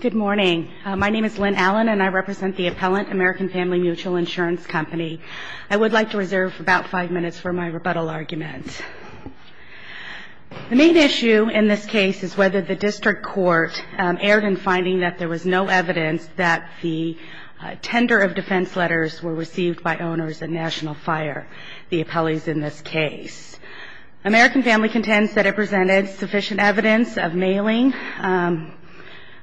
Good morning. My name is Lynn Allen and I represent the appellant, American Family Mutual Insurance Company. I would like to reserve about five minutes for my rebuttal argument. The main issue in this case is whether the district court erred in finding that there was no evidence that the tender of defense letters were received by owners of National Fire, the appellees in this case. American Family contends that it presented sufficient evidence of mailing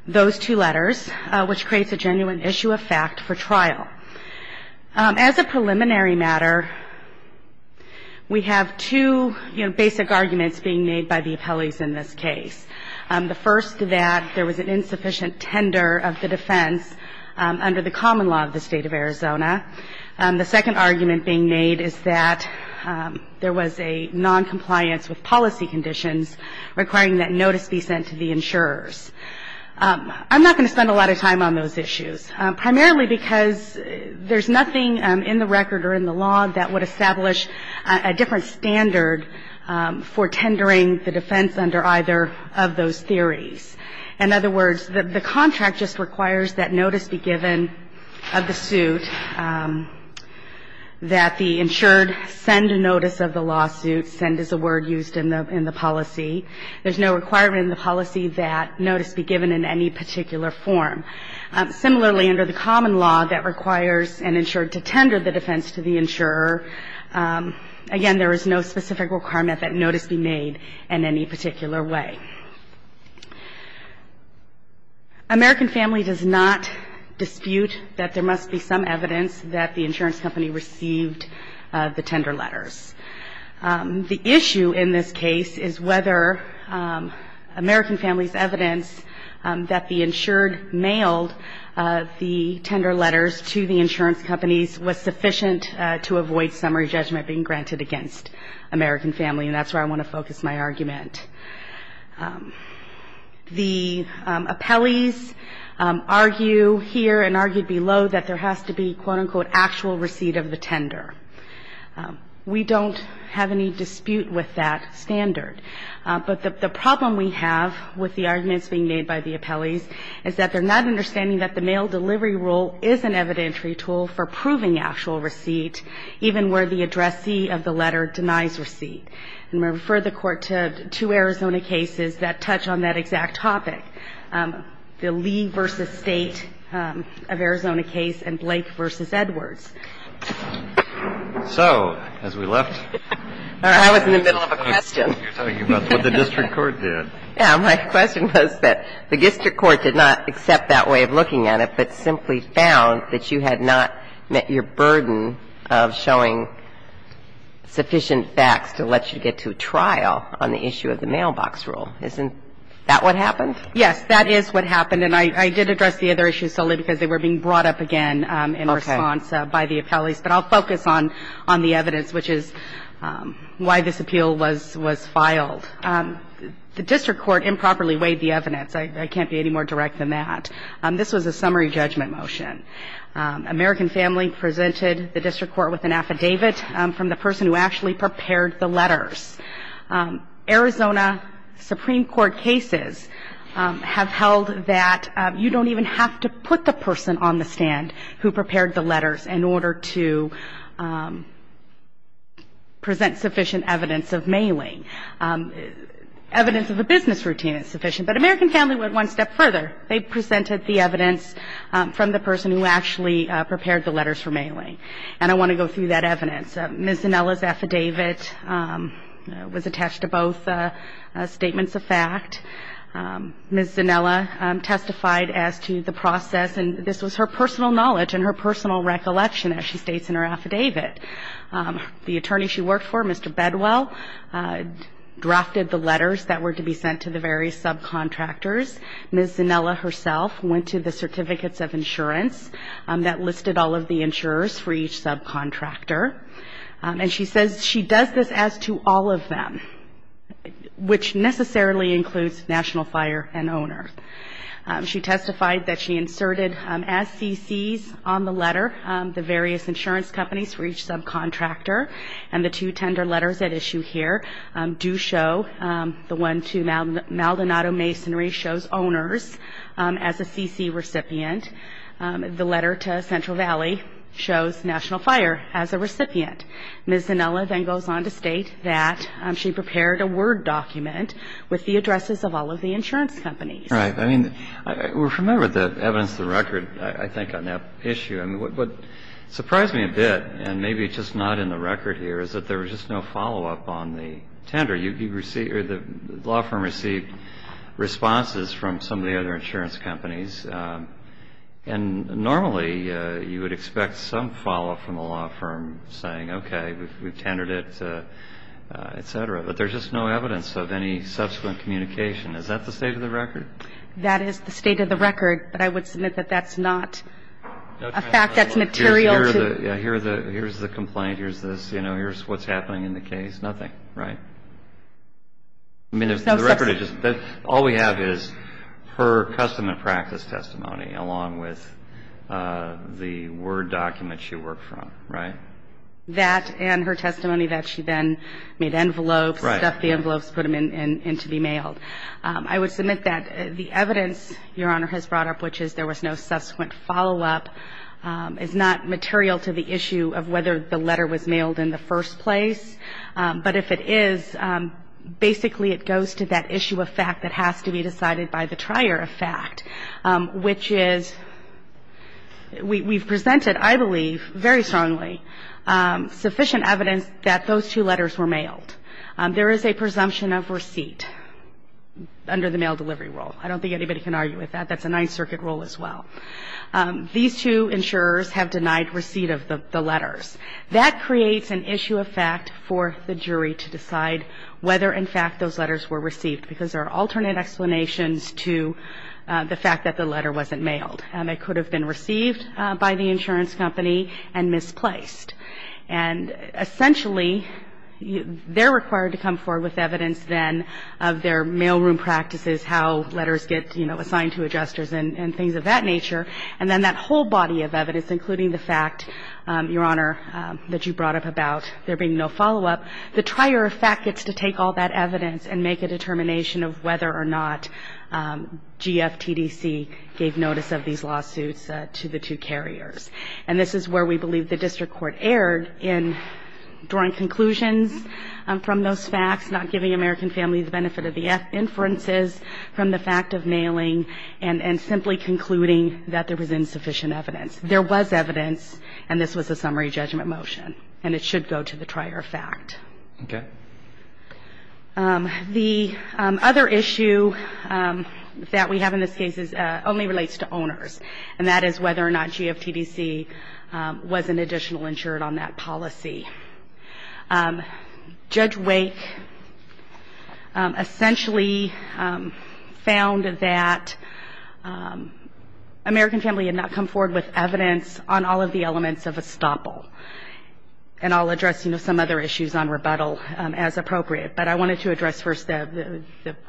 those two letters, which creates a genuine issue of fact for trial. As a preliminary matter, we have two basic arguments being made by the appellees in this case. The first, that there was an insufficient tender of the defense under the common law of the State of Arizona. The second argument being made is that there was a noncompliance with policy conditions requiring that notice be sent to the insurers. I'm not going to spend a lot of time on those issues, primarily because there's nothing in the record or in the law that would establish a different standard for tendering the defense under either of those theories. In other words, the contract just requires that notice be given of the suit, that the insured send a notice of the lawsuit, send is a word used in the policy. There's no requirement in the policy that notice be given in any particular form. Similarly, under the common law that requires an insured to tender the defense to the insurer, again, there is no specific requirement that notice be made in any particular way. American Family does not dispute that there must be some evidence that the insurance company received the tender letters. The issue in this case is whether American Family's evidence that the insured mailed the tender letters to the insurance companies was sufficient to avoid summary judgment being granted against American Family, and that's where I want to focus my argument. The appellees argue here and argued below that there has to be, quote, unquote, actual receipt of the tender. We don't have any dispute with that standard, but the problem we have with the arguments being made by the appellees is that they're not understanding that the mail delivery rule is an evidentiary tool for proving actual receipt, even where the addressee of the letter denies receipt. And I refer the Court to two Arizona cases that touch on that exact topic, the Lee v. State of Arizona case and Blake v. Edwards. So as we left the room, I was in the middle of a question. You're talking about what the district court did. My question was that the district court did not accept that way of looking at it, but simply found that you had not met your burden of showing sufficient facts to let you get to a trial on the issue of the mailbox rule. Isn't that what happened? Yes, that is what happened. And I did address the other issues solely because they were being brought up again in response by the appellees. But I'll focus on the evidence, which is why this appeal was filed. The district court improperly weighed the evidence. I can't be any more direct than that. This was a summary judgment motion. American Family presented the district court with an affidavit from the person who actually prepared the letters. Arizona Supreme Court cases have held that you don't even have to put the person on the stand who prepared the letters in order to present sufficient evidence of mailing. Evidence of a business routine is sufficient. But American Family went one step further. They presented the evidence from the person who actually prepared the letters for mailing. And I want to go through that evidence. Ms. Zanella's affidavit was attached to both statements of fact. Ms. Zanella testified as to the process. And this was her personal knowledge and her personal recollection, as she states in her affidavit. The attorney she worked for, Mr. Bedwell, drafted the letters that were to be sent to the various subcontractors. Ms. Zanella herself went to the certificates of insurance that listed all of the insurers for each subcontractor. And she says she does this as to all of them, which necessarily includes national fire and owner. She testified that she inserted SCCs on the letter, the various insurance companies for each subcontractor. And the two tender letters at issue here do show the one to Maldonado Masonry shows owners as a CC recipient. The letter to Central Valley shows national fire as a recipient. Ms. Zanella then goes on to state that she prepared a Word document with the addresses of all of the insurance companies. Right. I mean, remember the evidence of the record, I think, on that issue. What surprised me a bit, and maybe it's just not in the record here, is that there was just no follow-up on the tender. The law firm received responses from some of the other insurance companies. And normally you would expect some follow-up from the law firm saying, okay, we've tendered it, et cetera. But there's just no evidence of any subsequent communication. Is that the state of the record? That is the state of the record. But I would submit that that's not a fact that's material to. Here's the complaint. Here's this. Here's what's happening in the case. Nothing. Right? I mean, the record is just that all we have is her custom and practice testimony along with the Word document she worked from. Right? That and her testimony that she then made envelopes. Right. That the envelopes put them in to be mailed. I would submit that the evidence Your Honor has brought up, which is there was no subsequent follow-up, is not material to the issue of whether the letter was mailed in the first place. But if it is, basically it goes to that issue of fact that has to be decided by the trier of fact, which is we've presented, I believe, very strongly sufficient evidence that those two letters were mailed. There is a presumption of receipt under the mail delivery rule. I don't think anybody can argue with that. That's a Ninth Circuit rule as well. These two insurers have denied receipt of the letters. That creates an issue of fact for the jury to decide whether in fact those letters were received because there are alternate explanations to the fact that the letter wasn't mailed. It could have been received by the insurance company and misplaced. And essentially, they're required to come forward with evidence then of their mailroom practices, how letters get, you know, assigned to adjusters and things of that nature. And then that whole body of evidence, including the fact, Your Honor, that you brought up about there being no follow-up, the trier of fact gets to take all that evidence and make a determination of whether or not GFTDC gave notice of these lawsuits to the two carriers. And this is where we believe the district court erred in drawing conclusions from those facts, not giving American families the benefit of the inferences from the fact of nailing and simply concluding that there was insufficient evidence. There was evidence, and this was a summary judgment motion. And it should go to the trier of fact. Roberts. Okay. The other issue that we have in this case only relates to owners. And that is whether or not GFTDC was an additional insured on that policy. Judge Wake essentially found that American Family had not come forward with evidence on all of the elements of estoppel. And I'll address, you know, some other issues on rebuttal as appropriate. But I wanted to address first the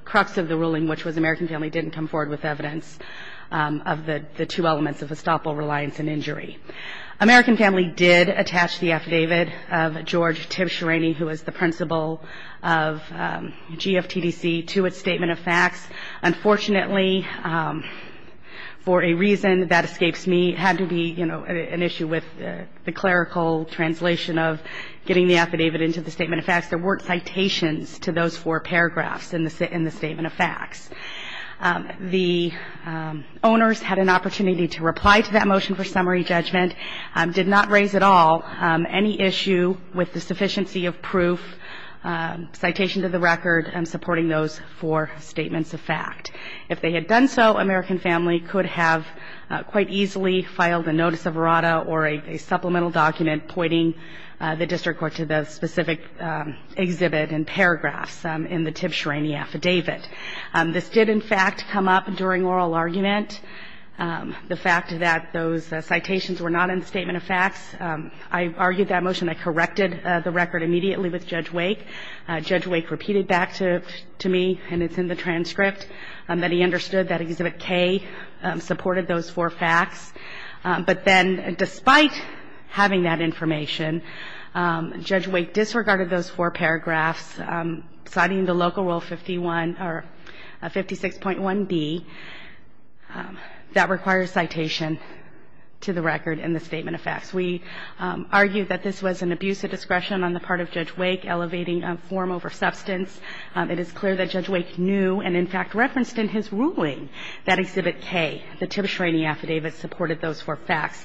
crux of the ruling, which was American Family didn't come forward with evidence of the two elements of estoppel reliance and injury. American Family did attach the affidavit of George Tibshirany, who was the principal of GFTDC, to its statement of facts. Unfortunately, for a reason that escapes me, it had to be, you know, an issue with the clerical translation of getting the affidavit into the statement of facts. There weren't citations to those four paragraphs in the statement of facts. The owners had an opportunity to reply to that motion for summary judgment, did not raise at all any issue with the sufficiency of proof, citation to the record, and supporting those four statements of fact. If they had done so, American Family could have quite easily filed a notice of errata or a supplemental document pointing the district court to the specific exhibit and paragraphs in the Tibshirany affidavit. This did, in fact, come up during oral argument. The fact that those citations were not in the statement of facts, I argued that motion. I corrected the record immediately with Judge Wake. Judge Wake repeated back to me, and it's in the transcript, that he understood that Exhibit K supported those four facts. But then, despite having that information, Judge Wake disregarded those four paragraphs, citing the Local Rule 51 or 56.1b, that requires citation to the record in the statement of facts. We argued that this was an abuse of discretion on the part of Judge Wake, elevating a form over substance. It is clear that Judge Wake knew and, in fact, referenced in his ruling that Exhibit K, the Tibshirany affidavit, supported those four facts.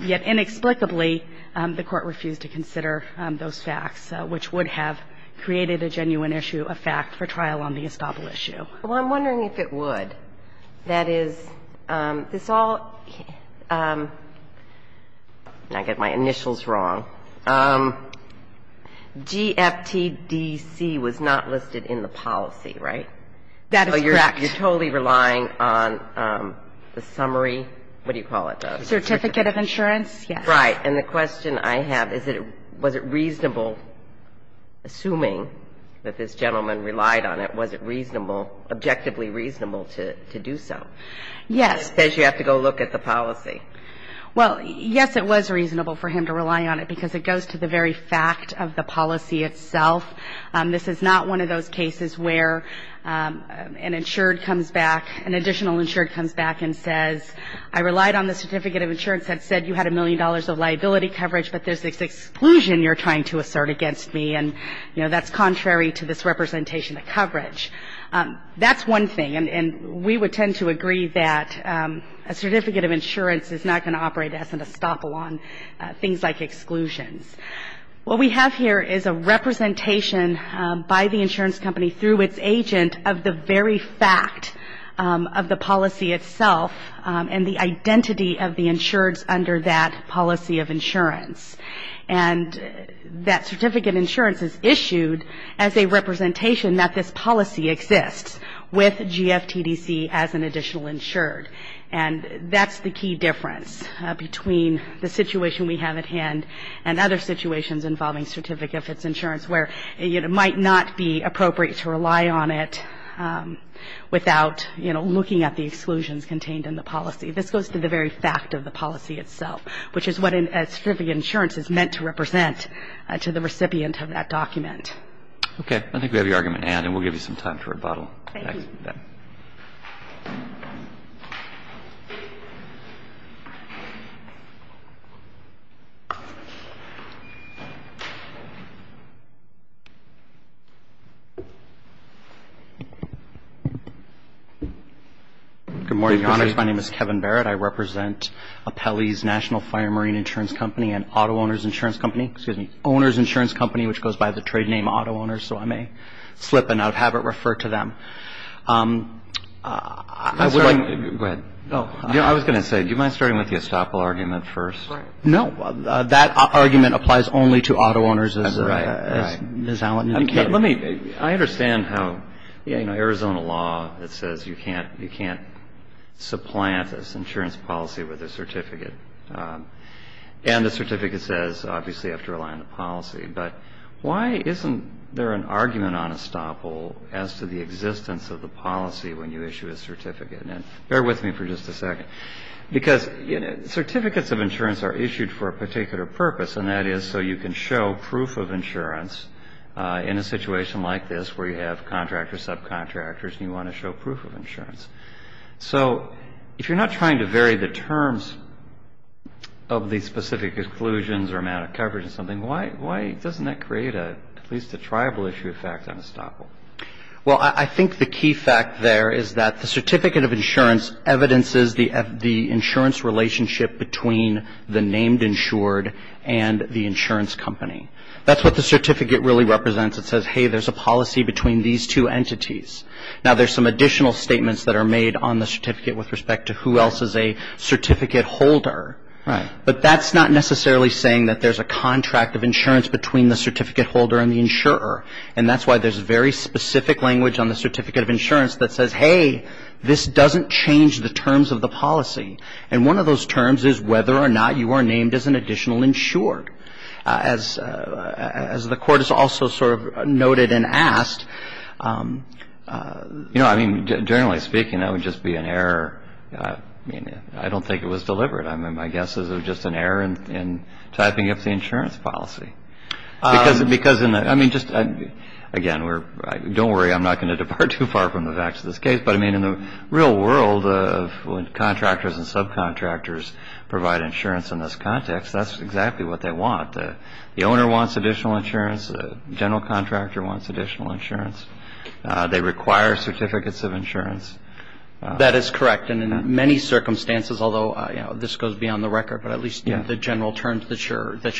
Yet, inexplicably, the Court refused to consider those facts, which would have created a genuine issue of fact for trial on the Estoppel issue. Well, I'm wondering if it would. That is, this all – I get my initials wrong. GFTDC was not listed in the policy, right? That is correct. You're totally relying on the summary. What do you call it? Certificate of insurance. Yes. Right. And the question I have is, was it reasonable, assuming that this gentleman relied on it, was it reasonable, objectively reasonable to do so? Yes. It says you have to go look at the policy. Well, yes, it was reasonable for him to rely on it because it goes to the very fact of the policy itself. This is not one of those cases where an insured comes back, an additional insured comes back and says, I relied on the certificate of insurance that said you had a million dollars of liability coverage, but there's this exclusion you're trying to assert against me. And, you know, that's contrary to this representation of coverage. That's one thing. And we would tend to agree that a certificate of insurance is not going to operate as an Estoppel on things like exclusions. What we have here is a representation by the insurance company through its agent of the very fact of the policy itself and the identity of the insureds under that policy of insurance. And that certificate of insurance is issued as a representation that this policy exists with GFTDC as an additional insured. And that's the key difference between the situation we have at hand and other situations involving certificate of insurance where it might not be appropriate to rely on it without, you know, looking at the exclusions contained in the policy. This goes to the very fact of the policy itself, which is what a certificate of insurance is meant to represent to the recipient of that document. Roberts. Okay. I think we have your argument, Ann, and we'll give you some time to rebuttal. Thank you. Thank you for that. Good morning, Your Honors. My name is Kevin Barrett. I represent Appellee's National Fire Marine Insurance Company and Auto Owners Insurance Company. Excuse me, Owners Insurance Company, which goes by the trade name Auto Owners, so I may slip and out of habit refer to them. I would like to go ahead. No. I was going to say, do you mind starting with the estoppel argument first? Right. No. That argument applies only to auto owners as Ms. Allen indicated. Let me. I understand how, you know, Arizona law, it says you can't supplant this insurance policy with a certificate. And the certificate says, obviously, you have to rely on the policy. But why isn't there an argument on estoppel as to the existence of the policy when you issue a certificate? And bear with me for just a second, because certificates of insurance are issued for a particular purpose, and that is so you can show proof of insurance in a situation like this where you have contractors, subcontractors, and you want to show proof of insurance. So if you're not trying to vary the terms of the specific exclusions or amount of coverage or something, why doesn't that create at least a tribal issue effect on estoppel? Well, I think the key fact there is that the certificate of insurance evidences the insurance relationship between the named insured and the insurance company. That's what the certificate really represents. It says, hey, there's a policy between these two entities. Now, there's some additional statements that are made on the certificate with respect to who else is a certificate holder. Right. But that's not necessarily saying that there's a contract of insurance between the certificate holder and the insurer. And that's why there's very specific language on the certificate of insurance that says, hey, this doesn't change the terms of the policy. And one of those terms is whether or not you are named as an additional insured. As the Court has also sort of noted and asked, you know, I mean, generally speaking, that would just be an error. I mean, I don't think it was deliberate. I mean, my guess is it was just an error in typing up the insurance policy. Because in the – I mean, just again, we're – don't worry. I'm not going to depart too far from the facts of this case. But, I mean, in the real world of when contractors and subcontractors provide insurance in this context, that's exactly what they want. The owner wants additional insurance. The general contractor wants additional insurance. They require certificates of insurance. That is correct. And in many circumstances, although, you know, this goes beyond the record, but at least the general terms that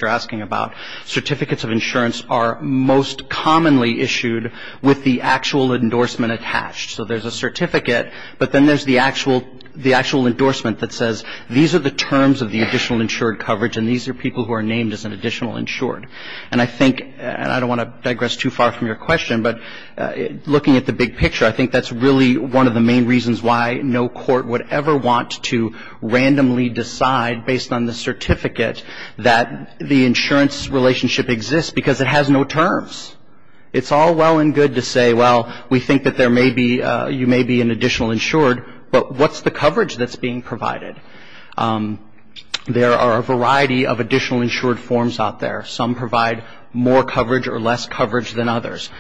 you're asking about, certificates of insurance are most commonly issued with the actual endorsement attached. So there's a certificate, but then there's the actual endorsement that says, these are the terms of the additional insured coverage, and these are people who are named as an additional insured. And I think – and I don't want to digress too far from your question, but looking at the big picture, I think that's really one of the main reasons why no court would ever want to randomly decide, based on the certificate, that the insurance relationship exists, because it has no terms. It's all well and good to say, well, we think that there may be – you may be an additional insured, but what's the coverage that's being provided? There are a variety of additional insured forms out there. Some provide more coverage or less coverage than others.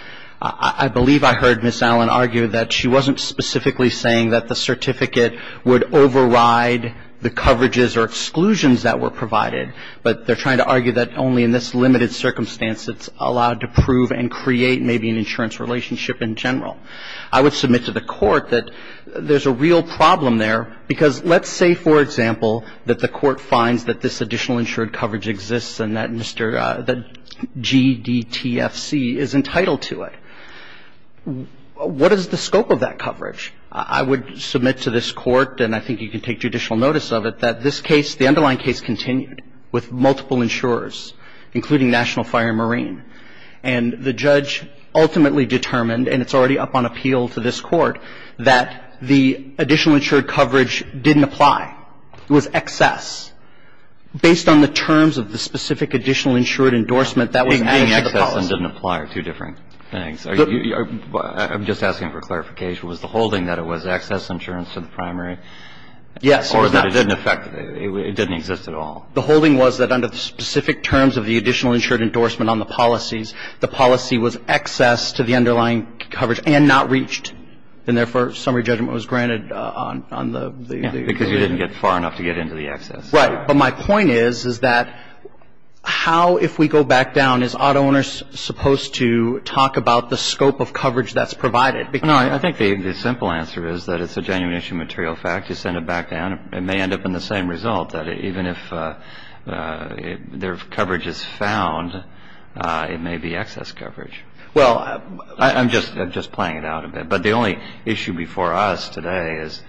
I believe I heard Ms. Allen argue that she wasn't specifically saying that the certificate would override the coverages or exclusions that were provided, but they're trying to argue that only in this limited circumstance it's allowed to prove and create maybe an insurance relationship in general. I would submit to the Court that there's a real problem there, because let's say, for example, that the Court finds that this additional insured coverage exists and that Mr. – that GDTFC is entitled to it. What is the scope of that coverage? I would submit to this Court, and I think you can take judicial notice of it, that this case, the underlying case, continued with multiple insurers, including National Fire and Marine. And the judge ultimately determined, and it's already up on appeal to this Court, that the additional insured coverage didn't apply. It was excess. Based on the terms of the specific additional insured endorsement, that was added to the policy. Adding excess and didn't apply are two different things. I'm just asking for clarification. Was the holding that it was excess insurance to the primary? Yes. Or that it didn't affect – it didn't exist at all? The holding was that under the specific terms of the additional insured endorsement on the policies, the policy was excess to the underlying coverage and not reached. And therefore, summary judgment was granted on the – Because you didn't get far enough to get into the excess. Right. But my point is, is that how, if we go back down, is auto owners supposed to talk about the scope of coverage that's provided? No, I think the simple answer is that it's a genuine issue of material fact. You send it back down. It may end up in the same result, that even if their coverage is found, it may be excess coverage. Well, I'm just playing it out a bit. But the only issue before us today is,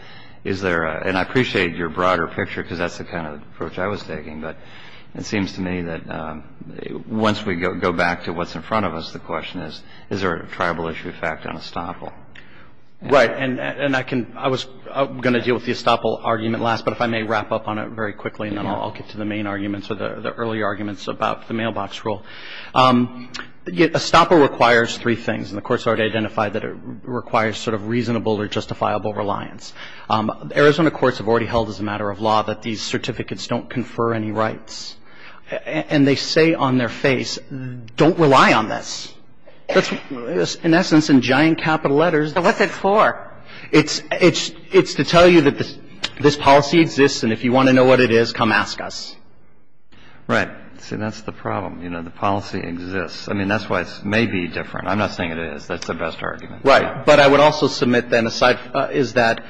is there – and I appreciate your broader picture because that's the kind of approach I was taking. But it seems to me that once we go back to what's in front of us, the question is, is there a tribal issue of fact on estoppel? Right. And I can – I was going to deal with the estoppel argument last, but if I may wrap up on it very quickly and then I'll get to the main arguments or the early arguments about the mailbox rule. Estoppel requires three things. And the Court's already identified that it requires sort of reasonable or justifiable reliance. Arizona courts have already held as a matter of law that these certificates don't confer any rights. And they say on their face, don't rely on this. That's, in essence, in giant capital letters. But what's it for? It's to tell you that this policy exists and if you want to know what it is, come ask us. Right. See, that's the problem. You know, the policy exists. I mean, that's why it may be different. I'm not saying it is. That's the best argument. Right. But I would also submit then a side – is that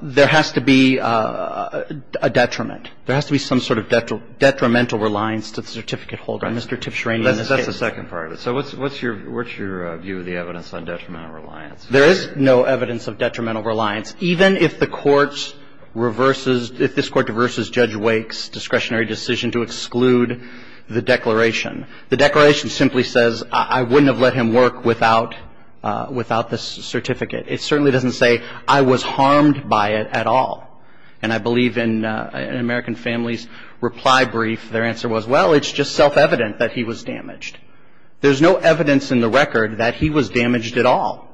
there has to be a detriment. There has to be some sort of detrimental reliance to the certificate holder. That's the second part of it. So what's your view of the evidence on detrimental reliance? There is no evidence of detrimental reliance, even if the Court reverses – if this Court reverses Judge Wake's discretionary decision to exclude the declaration. The declaration simply says, I wouldn't have let him work without this certificate. It certainly doesn't say, I was harmed by it at all. And I believe in an American family's reply brief, their answer was, well, it's just self-evident that he was damaged. There's no evidence in the record that he was damaged at all.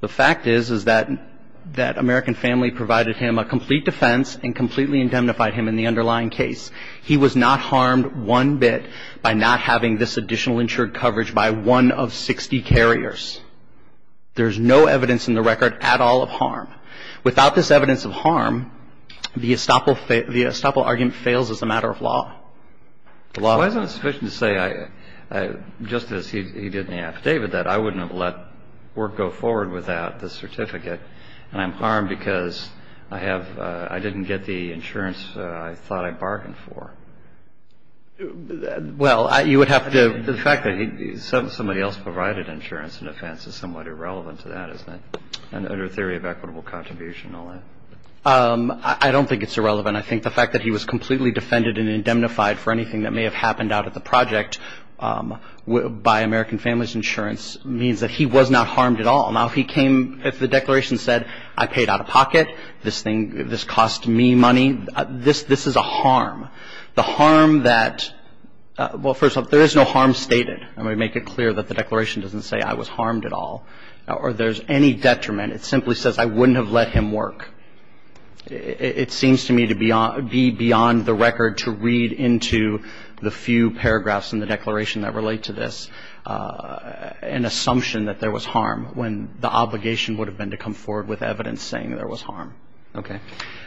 The fact is, is that American family provided him a complete defense and completely indemnified him in the underlying case. He was not harmed one bit by not having this additional insured coverage by one of 60 carriers. There's no evidence in the record at all of harm. Without this evidence of harm, the estoppel argument fails as a matter of law. Why is it insufficient to say, just as he did in the affidavit, that I wouldn't have let work go forward without the certificate and I'm harmed because I have – I didn't get the insurance I thought I bargained for? Well, you would have to – The fact that somebody else provided insurance in defense is somewhat irrelevant to that, isn't it? And under theory of equitable contribution and all that. I don't think it's irrelevant. I think the fact that he was completely defended and indemnified for anything that may have happened out at the project by American family's insurance means that he was not harmed at all. Now, if he came – if the declaration said, I paid out of pocket, this thing – this cost me money, this is a harm. The harm that – well, first of all, there is no harm stated, and we make it clear that the declaration doesn't say I was harmed at all. Or there's any detriment. It simply says I wouldn't have let him work. It seems to me to be beyond the record to read into the few paragraphs in the declaration that relate to this an assumption that there was harm when the obligation would have been to come forward with evidence saying there was harm. Okay.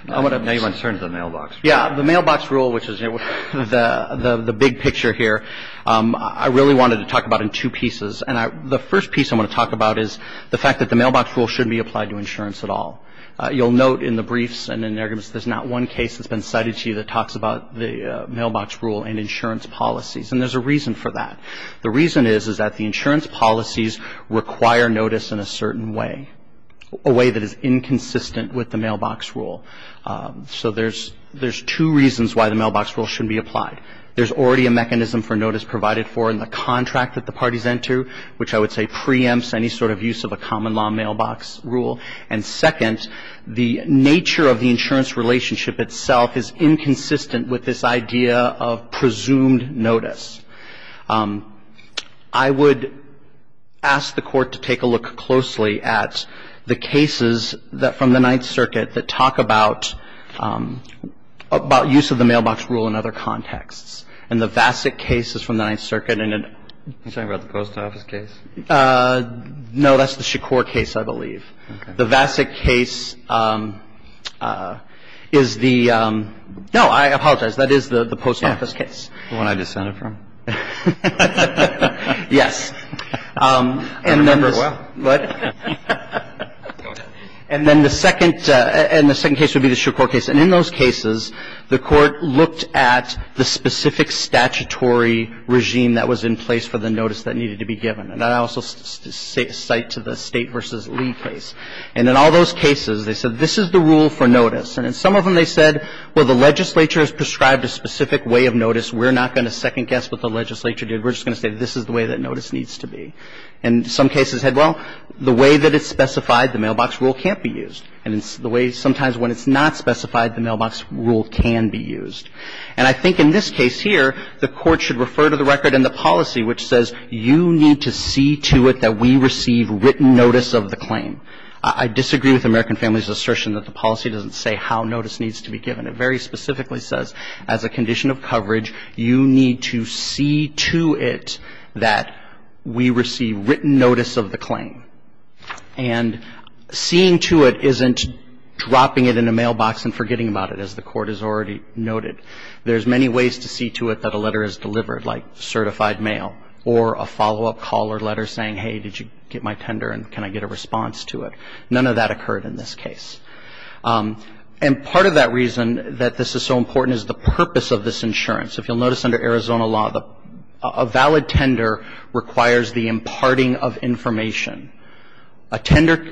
Now you want to turn to the mailbox rule. Yeah. The mailbox rule, which is the big picture here, I really wanted to talk about in two pieces. And the first piece I want to talk about is the fact that the mailbox rule shouldn't be applied to insurance at all. You'll note in the briefs and in the arguments, there's not one case that's been cited to you that talks about the mailbox rule and insurance policies. And there's a reason for that. The reason is, is that the insurance policies require notice in a certain way, a way that is inconsistent with the mailbox rule. And the reason for that is because, first of all, there's already a mechanism for notice provided. There's already a mechanism for notice provided for in the contract that the parties enter, which I would say preempts any sort of use of a common law mailbox rule. And second, the nature of the insurance relationship itself is inconsistent with this idea of presumed notice. I would ask the Court to take a look closely at the cases from the Ninth Circuit that talk about use of the mailbox rule in other contexts. And the Vasek case is from the Ninth Circuit. Are you talking about the post office case? No, that's the Shakur case, I believe. Okay. The Vasek case is the – no, I apologize. That is the post office case. Yeah. The one I descended from? Yes. I remember it well. And then the second – and the second case would be the Shakur case. And in those cases, the Court looked at the specific statutory regime that was in place for the notice that needed to be given. And I also cite to the State v. Lee case. And in all those cases, they said this is the rule for notice. And in some of them, they said, well, the legislature has prescribed a specific way of notice. We're not going to second-guess what the legislature did. We're just going to say this is the way that notice needs to be. And some cases said, well, the way that it's specified, the mailbox rule can't be used. And it's the way sometimes when it's not specified, the mailbox rule can be used. And I think in this case here, the Court should refer to the record in the policy which says you need to see to it that we receive written notice of the claim. I disagree with American Families' assertion that the policy doesn't say how notice needs to be given. It very specifically says as a condition of coverage, you need to see to it that we receive written notice of the claim. And seeing to it isn't dropping it in a mailbox and forgetting about it, as the Court has already noted. There's many ways to see to it that a letter is delivered, like certified mail or a follow-up call or letter saying, hey, did you get my tender and can I get a response to it? None of that occurred in this case. And part of that reason that this is so important is the purpose of this insurance. If you'll notice under Arizona law, a valid tender requires the imparting of information. A tender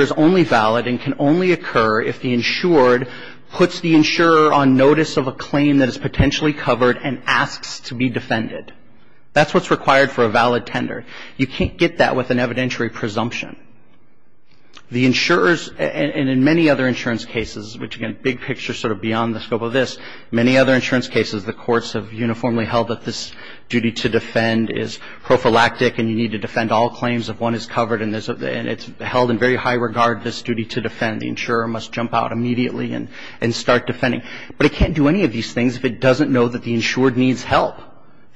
is only valid and can only occur if the insured puts the insurer on notice of a claim that is potentially covered and asks to be defended. That's what's required for a valid tender. You can't get that with an evidentiary presumption. The insurers, and in many other insurance cases, which again, big picture sort of beyond the scope of this, many other insurance cases, the courts have uniformly held that this duty to defend is prophylactic and you need to defend all claims if one is covered and it's held in very high regard, this duty to defend. The insurer must jump out immediately and start defending. But it can't do any of these things if it doesn't know that the insured needs help.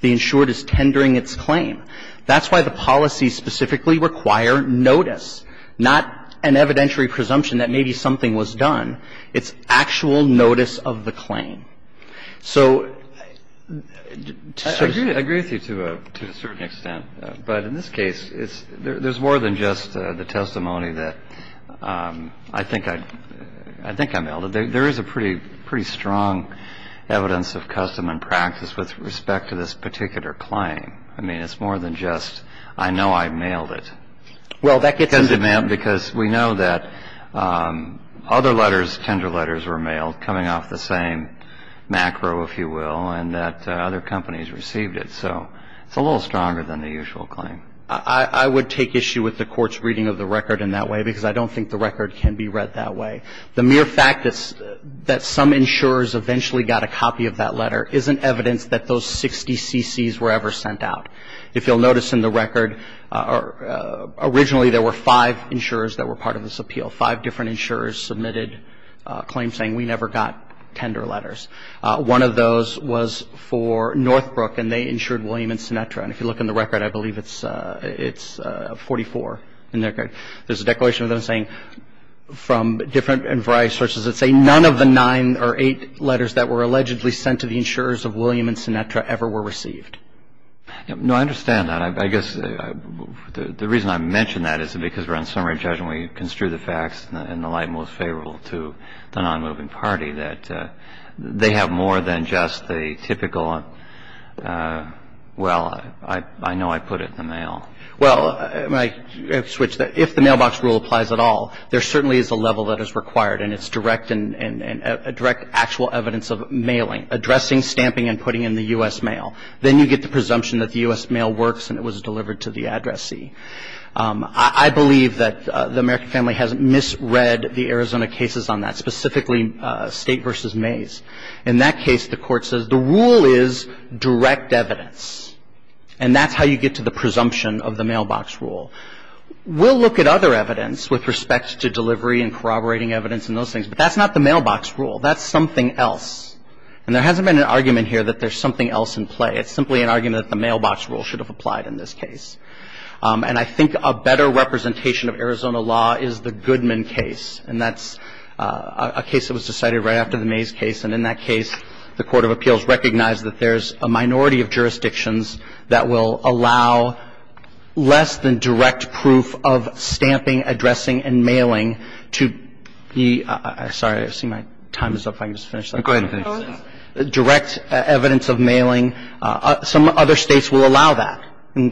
The insured is tendering its claim. That's why the policy specifically require notice, not an evidentiary presumption that maybe something was done. It's actual notice of the claim. So to a certain extent, but in this case, there's more than just the testimony that I think I've held. There is a pretty strong evidence of custom and practice with respect to this particular claim. I mean, it's more than just I know I've mailed it. Because we know that other letters, tender letters were mailed coming off the same macro, if you will, and that other companies received it. So it's a little stronger than the usual claim. I would take issue with the Court's reading of the record in that way because I don't think the record can be read that way. The mere fact that some insurers eventually got a copy of that letter isn't evidence that those 60 CCs were ever sent out. If you'll notice in the record, originally there were five insurers that were part of this appeal. Five different insurers submitted claims saying we never got tender letters. One of those was for Northbrook, and they insured William and Sinatra. And if you look in the record, I believe it's 44 in there. There's a declaration of them saying from different and variety of sources that say none of the nine or eight letters that were allegedly sent to the insurers of William and Sinatra ever were received. No, I understand that. I guess the reason I mention that is because we're on summary judgment and we construe the facts in the light most favorable to the nonmoving party, that they have more than just the typical, well, I know I put it in the mail. Well, if the mailbox rule applies at all, there certainly is a level that is required and it's direct and direct actual evidence of mailing, addressing, stamping and putting in the U.S. mail. Then you get the presumption that the U.S. mail works and it was delivered to the addressee. I believe that the American family has misread the Arizona cases on that, specifically State v. Mays. In that case, the Court says the rule is direct evidence, and that's how you get to the presumption of the mailbox rule. We'll look at other evidence with respect to delivery and corroborating evidence and those things, but that's not the mailbox rule. That's something else. And there hasn't been an argument here that there's something else in play. It's simply an argument that the mailbox rule should have applied in this case. And I think a better representation of Arizona law is the Goodman case, and that's a case that was decided right after the Mays case. And in that case, the Court of Appeals recognized that there's a minority of jurisdictions that will allow less than direct proof of stamping, addressing, and mailing to be – sorry, I see my time is up. If I can just finish that. Go ahead. Direct evidence of mailing. Some other states will allow that.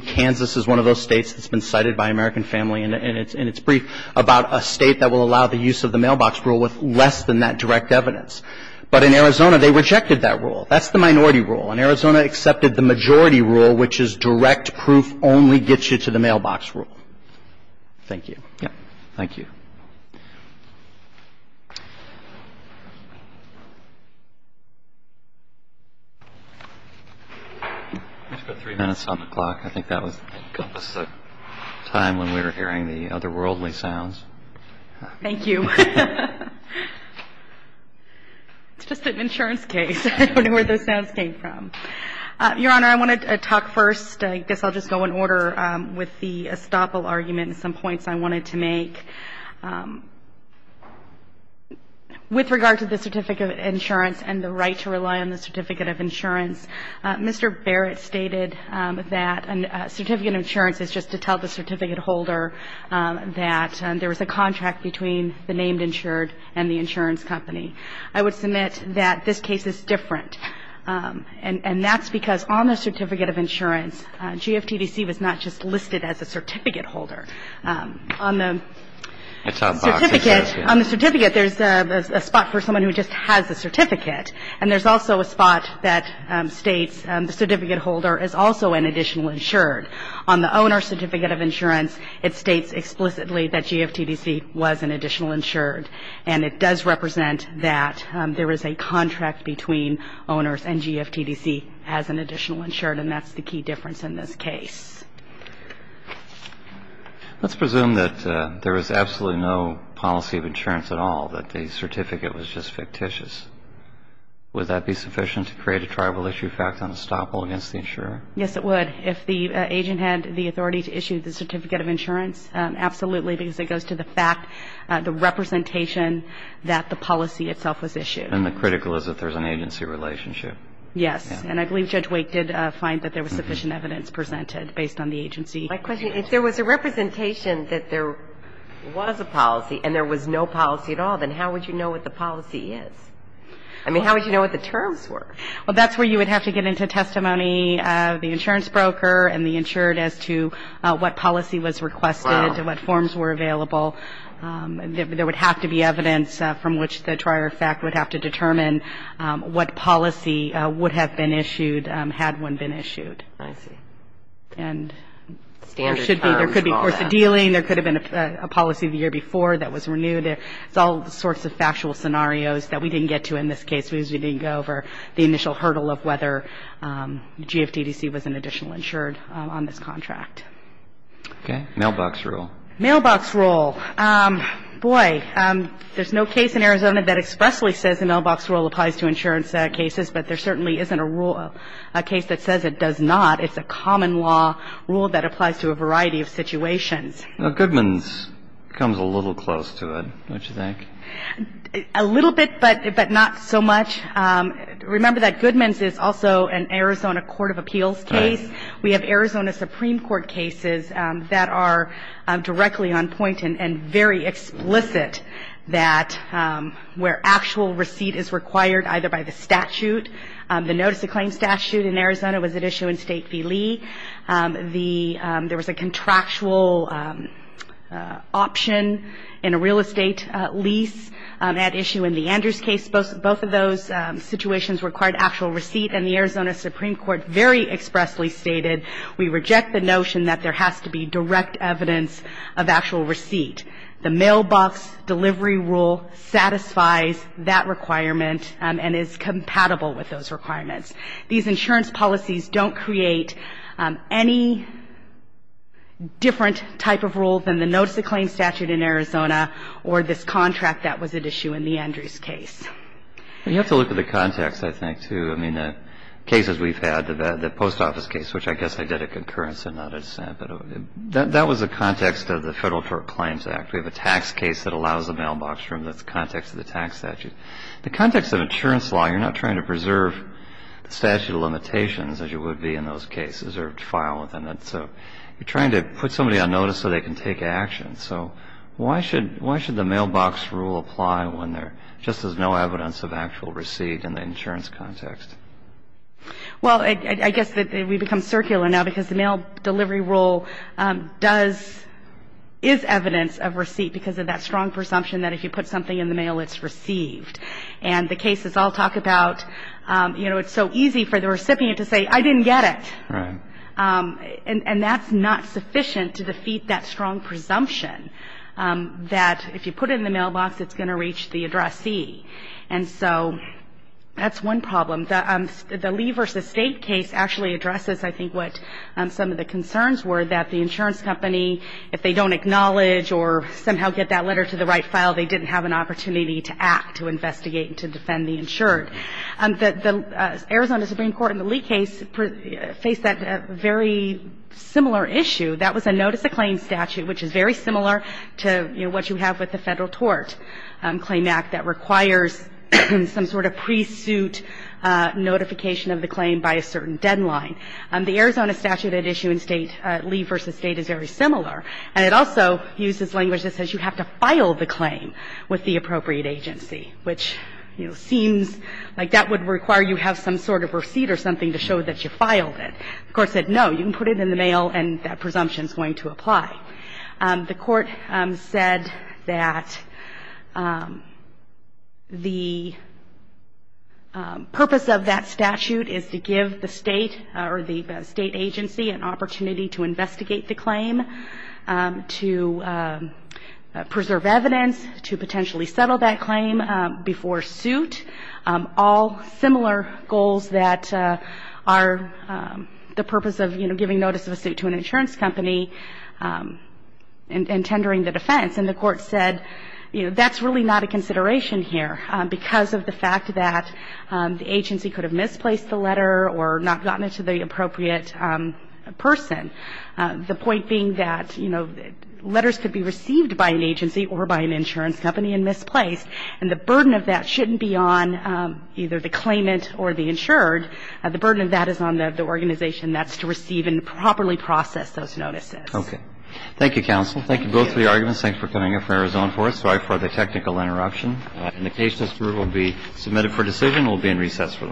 Kansas is one of those states that's been cited by American family in its brief about a state that will allow the use of the mailbox rule with less than that direct evidence. But in Arizona, they rejected that rule. That's the minority rule. And Arizona accepted the majority rule, which is direct proof only gets you to the mailbox rule. Thank you. Thank you. We've got three minutes on the clock. I think that was the time when we were hearing the otherworldly sounds. Thank you. It's just an insurance case. I don't know where those sounds came from. Your Honor, I want to talk first. I guess I'll just go in order with the estoppel argument and some points I wanted to make. With regard to the certificate of insurance and the right to rely on the certificate of insurance, Mr. Barrett stated that a certificate of insurance is just to tell the certificate holder that there was a contract between the named insured and the insurance company. I would submit that this case is different. And that's because on the certificate of insurance, GFTDC was not just listed as a certificate holder. On the certificate, there's a spot for someone who just has a certificate. And there's also a spot that states the certificate holder is also an additional insured. On the owner's certificate of insurance, it states explicitly that GFTDC was an additional insured. And it does represent that there is a contract between owners and GFTDC as an additional insured. And that's the key difference in this case. Let's presume that there was absolutely no policy of insurance at all, that the certificate was just fictitious. Would that be sufficient to create a tribal issue fact on estoppel against the insurer? Yes, it would. If the agent had the authority to issue the certificate of insurance, absolutely, because it goes to the fact, the representation that the policy itself was issued. And the critical is that there's an agency relationship. Yes. And I believe Judge Wake did find that there was sufficient evidence presented based on the agency. My question, if there was a representation that there was a policy and there was no policy at all, then how would you know what the policy is? I mean, how would you know what the terms were? Well, that's where you would have to get into testimony, the insurance broker and the insured as to what policy was requested, what forms were available. There would have to be evidence from which the trier of fact would have to determine what policy would have been issued had one been issued. I see. And there should be. Standard terms. There could be course of dealing. There could have been a policy the year before that was renewed. It's all sorts of factual scenarios that we didn't get to in this case because we didn't go over the initial hurdle of whether GFDDC was an additional insured on this contract. Okay. Mailbox rule. Mailbox rule. Boy, there's no case in Arizona that expressly says the mailbox rule applies to insurance cases, but there certainly isn't a rule, a case that says it does not. It's a common law rule that applies to a variety of situations. Goodman's comes a little close to it, don't you think? A little bit, but not so much. Remember that Goodman's is also an Arizona Court of Appeals case. Right. We have Arizona Supreme Court cases that are directly on point and very explicit that where actual receipt is required either by the statute. The notice of claim statute in Arizona was at issue in State v. Lee. There was a contractual option in a real estate lease at issue in the Andrews case. Both of those situations required actual receipt, and the Arizona Supreme Court very expressly stated, we reject the notion that there has to be direct evidence of actual receipt. The mailbox delivery rule satisfies that requirement and is compatible with those requirements. These insurance policies don't create any different type of rule than the notice of claim statute in Arizona or this contract that was at issue in the Andrews case. Well, you have to look at the context, I think, too. I mean, the cases we've had, the post office case, which I guess I did a concurrence and not a dissent, but that was the context of the Federal Tort Claims Act. We have a tax case that allows a mailbox rule, and that's the context of the tax statute. The context of insurance law, you're not trying to preserve the statute of limitations, as you would be in those cases, or file within it. So you're trying to put somebody on notice so they can take action. So why should the mailbox rule apply when there just is no evidence of actual receipt in the insurance context? Well, I guess that we've become circular now because the mail delivery rule does, is evidence of receipt because of that strong presumption that if you put something in the mail, it's received. And the cases all talk about, you know, it's so easy for the recipient to say, I didn't get it. Right. And that's not sufficient to defeat that strong presumption that if you put it in the mailbox, it's going to reach the addressee. And so that's one problem. The Lee v. State case actually addresses, I think, what some of the concerns were, that the insurance company, if they don't acknowledge or somehow get that letter to the right file, they didn't have an opportunity to act, to investigate, to defend the insured. The Arizona Supreme Court in the Lee case faced that very similar issue. That was a notice of claim statute, which is very similar to, you know, what you have with the Federal Tort Claim Act that requires some sort of pre-suit notification of the claim by a certain deadline. The Arizona statute at issue in State, Lee v. State, is very similar. And it also uses language that says you have to file the claim with the appropriate agency, which, you know, seems like that would require you have some sort of receipt or something to show that you filed it. The Court said, no, you can put it in the mail, and that presumption is going to apply. The Court said that the purpose of that statute is to give the State or the State agency an opportunity to investigate the claim, to preserve evidence, to potentially settle that claim before suit. All similar goals that are the purpose of, you know, giving notice of a suit to an insurance company and tendering the defense. And the Court said, you know, that's really not a consideration here because of the fact that the agency could have misplaced the letter or not gotten it to the appropriate person. The point being that, you know, letters could be received by an agency or by an insurance company and misplaced, and the burden of that shouldn't be on either the claimant or the insured. The burden of that is on the organization. That's to receive and properly process those notices. Roberts. Okay. Thank you, counsel. Thank you both for your arguments. Thanks for coming here from Arizona for us. Sorry for the technical interruption. Indication of approval will be submitted for decision. It will be in recess for the morning.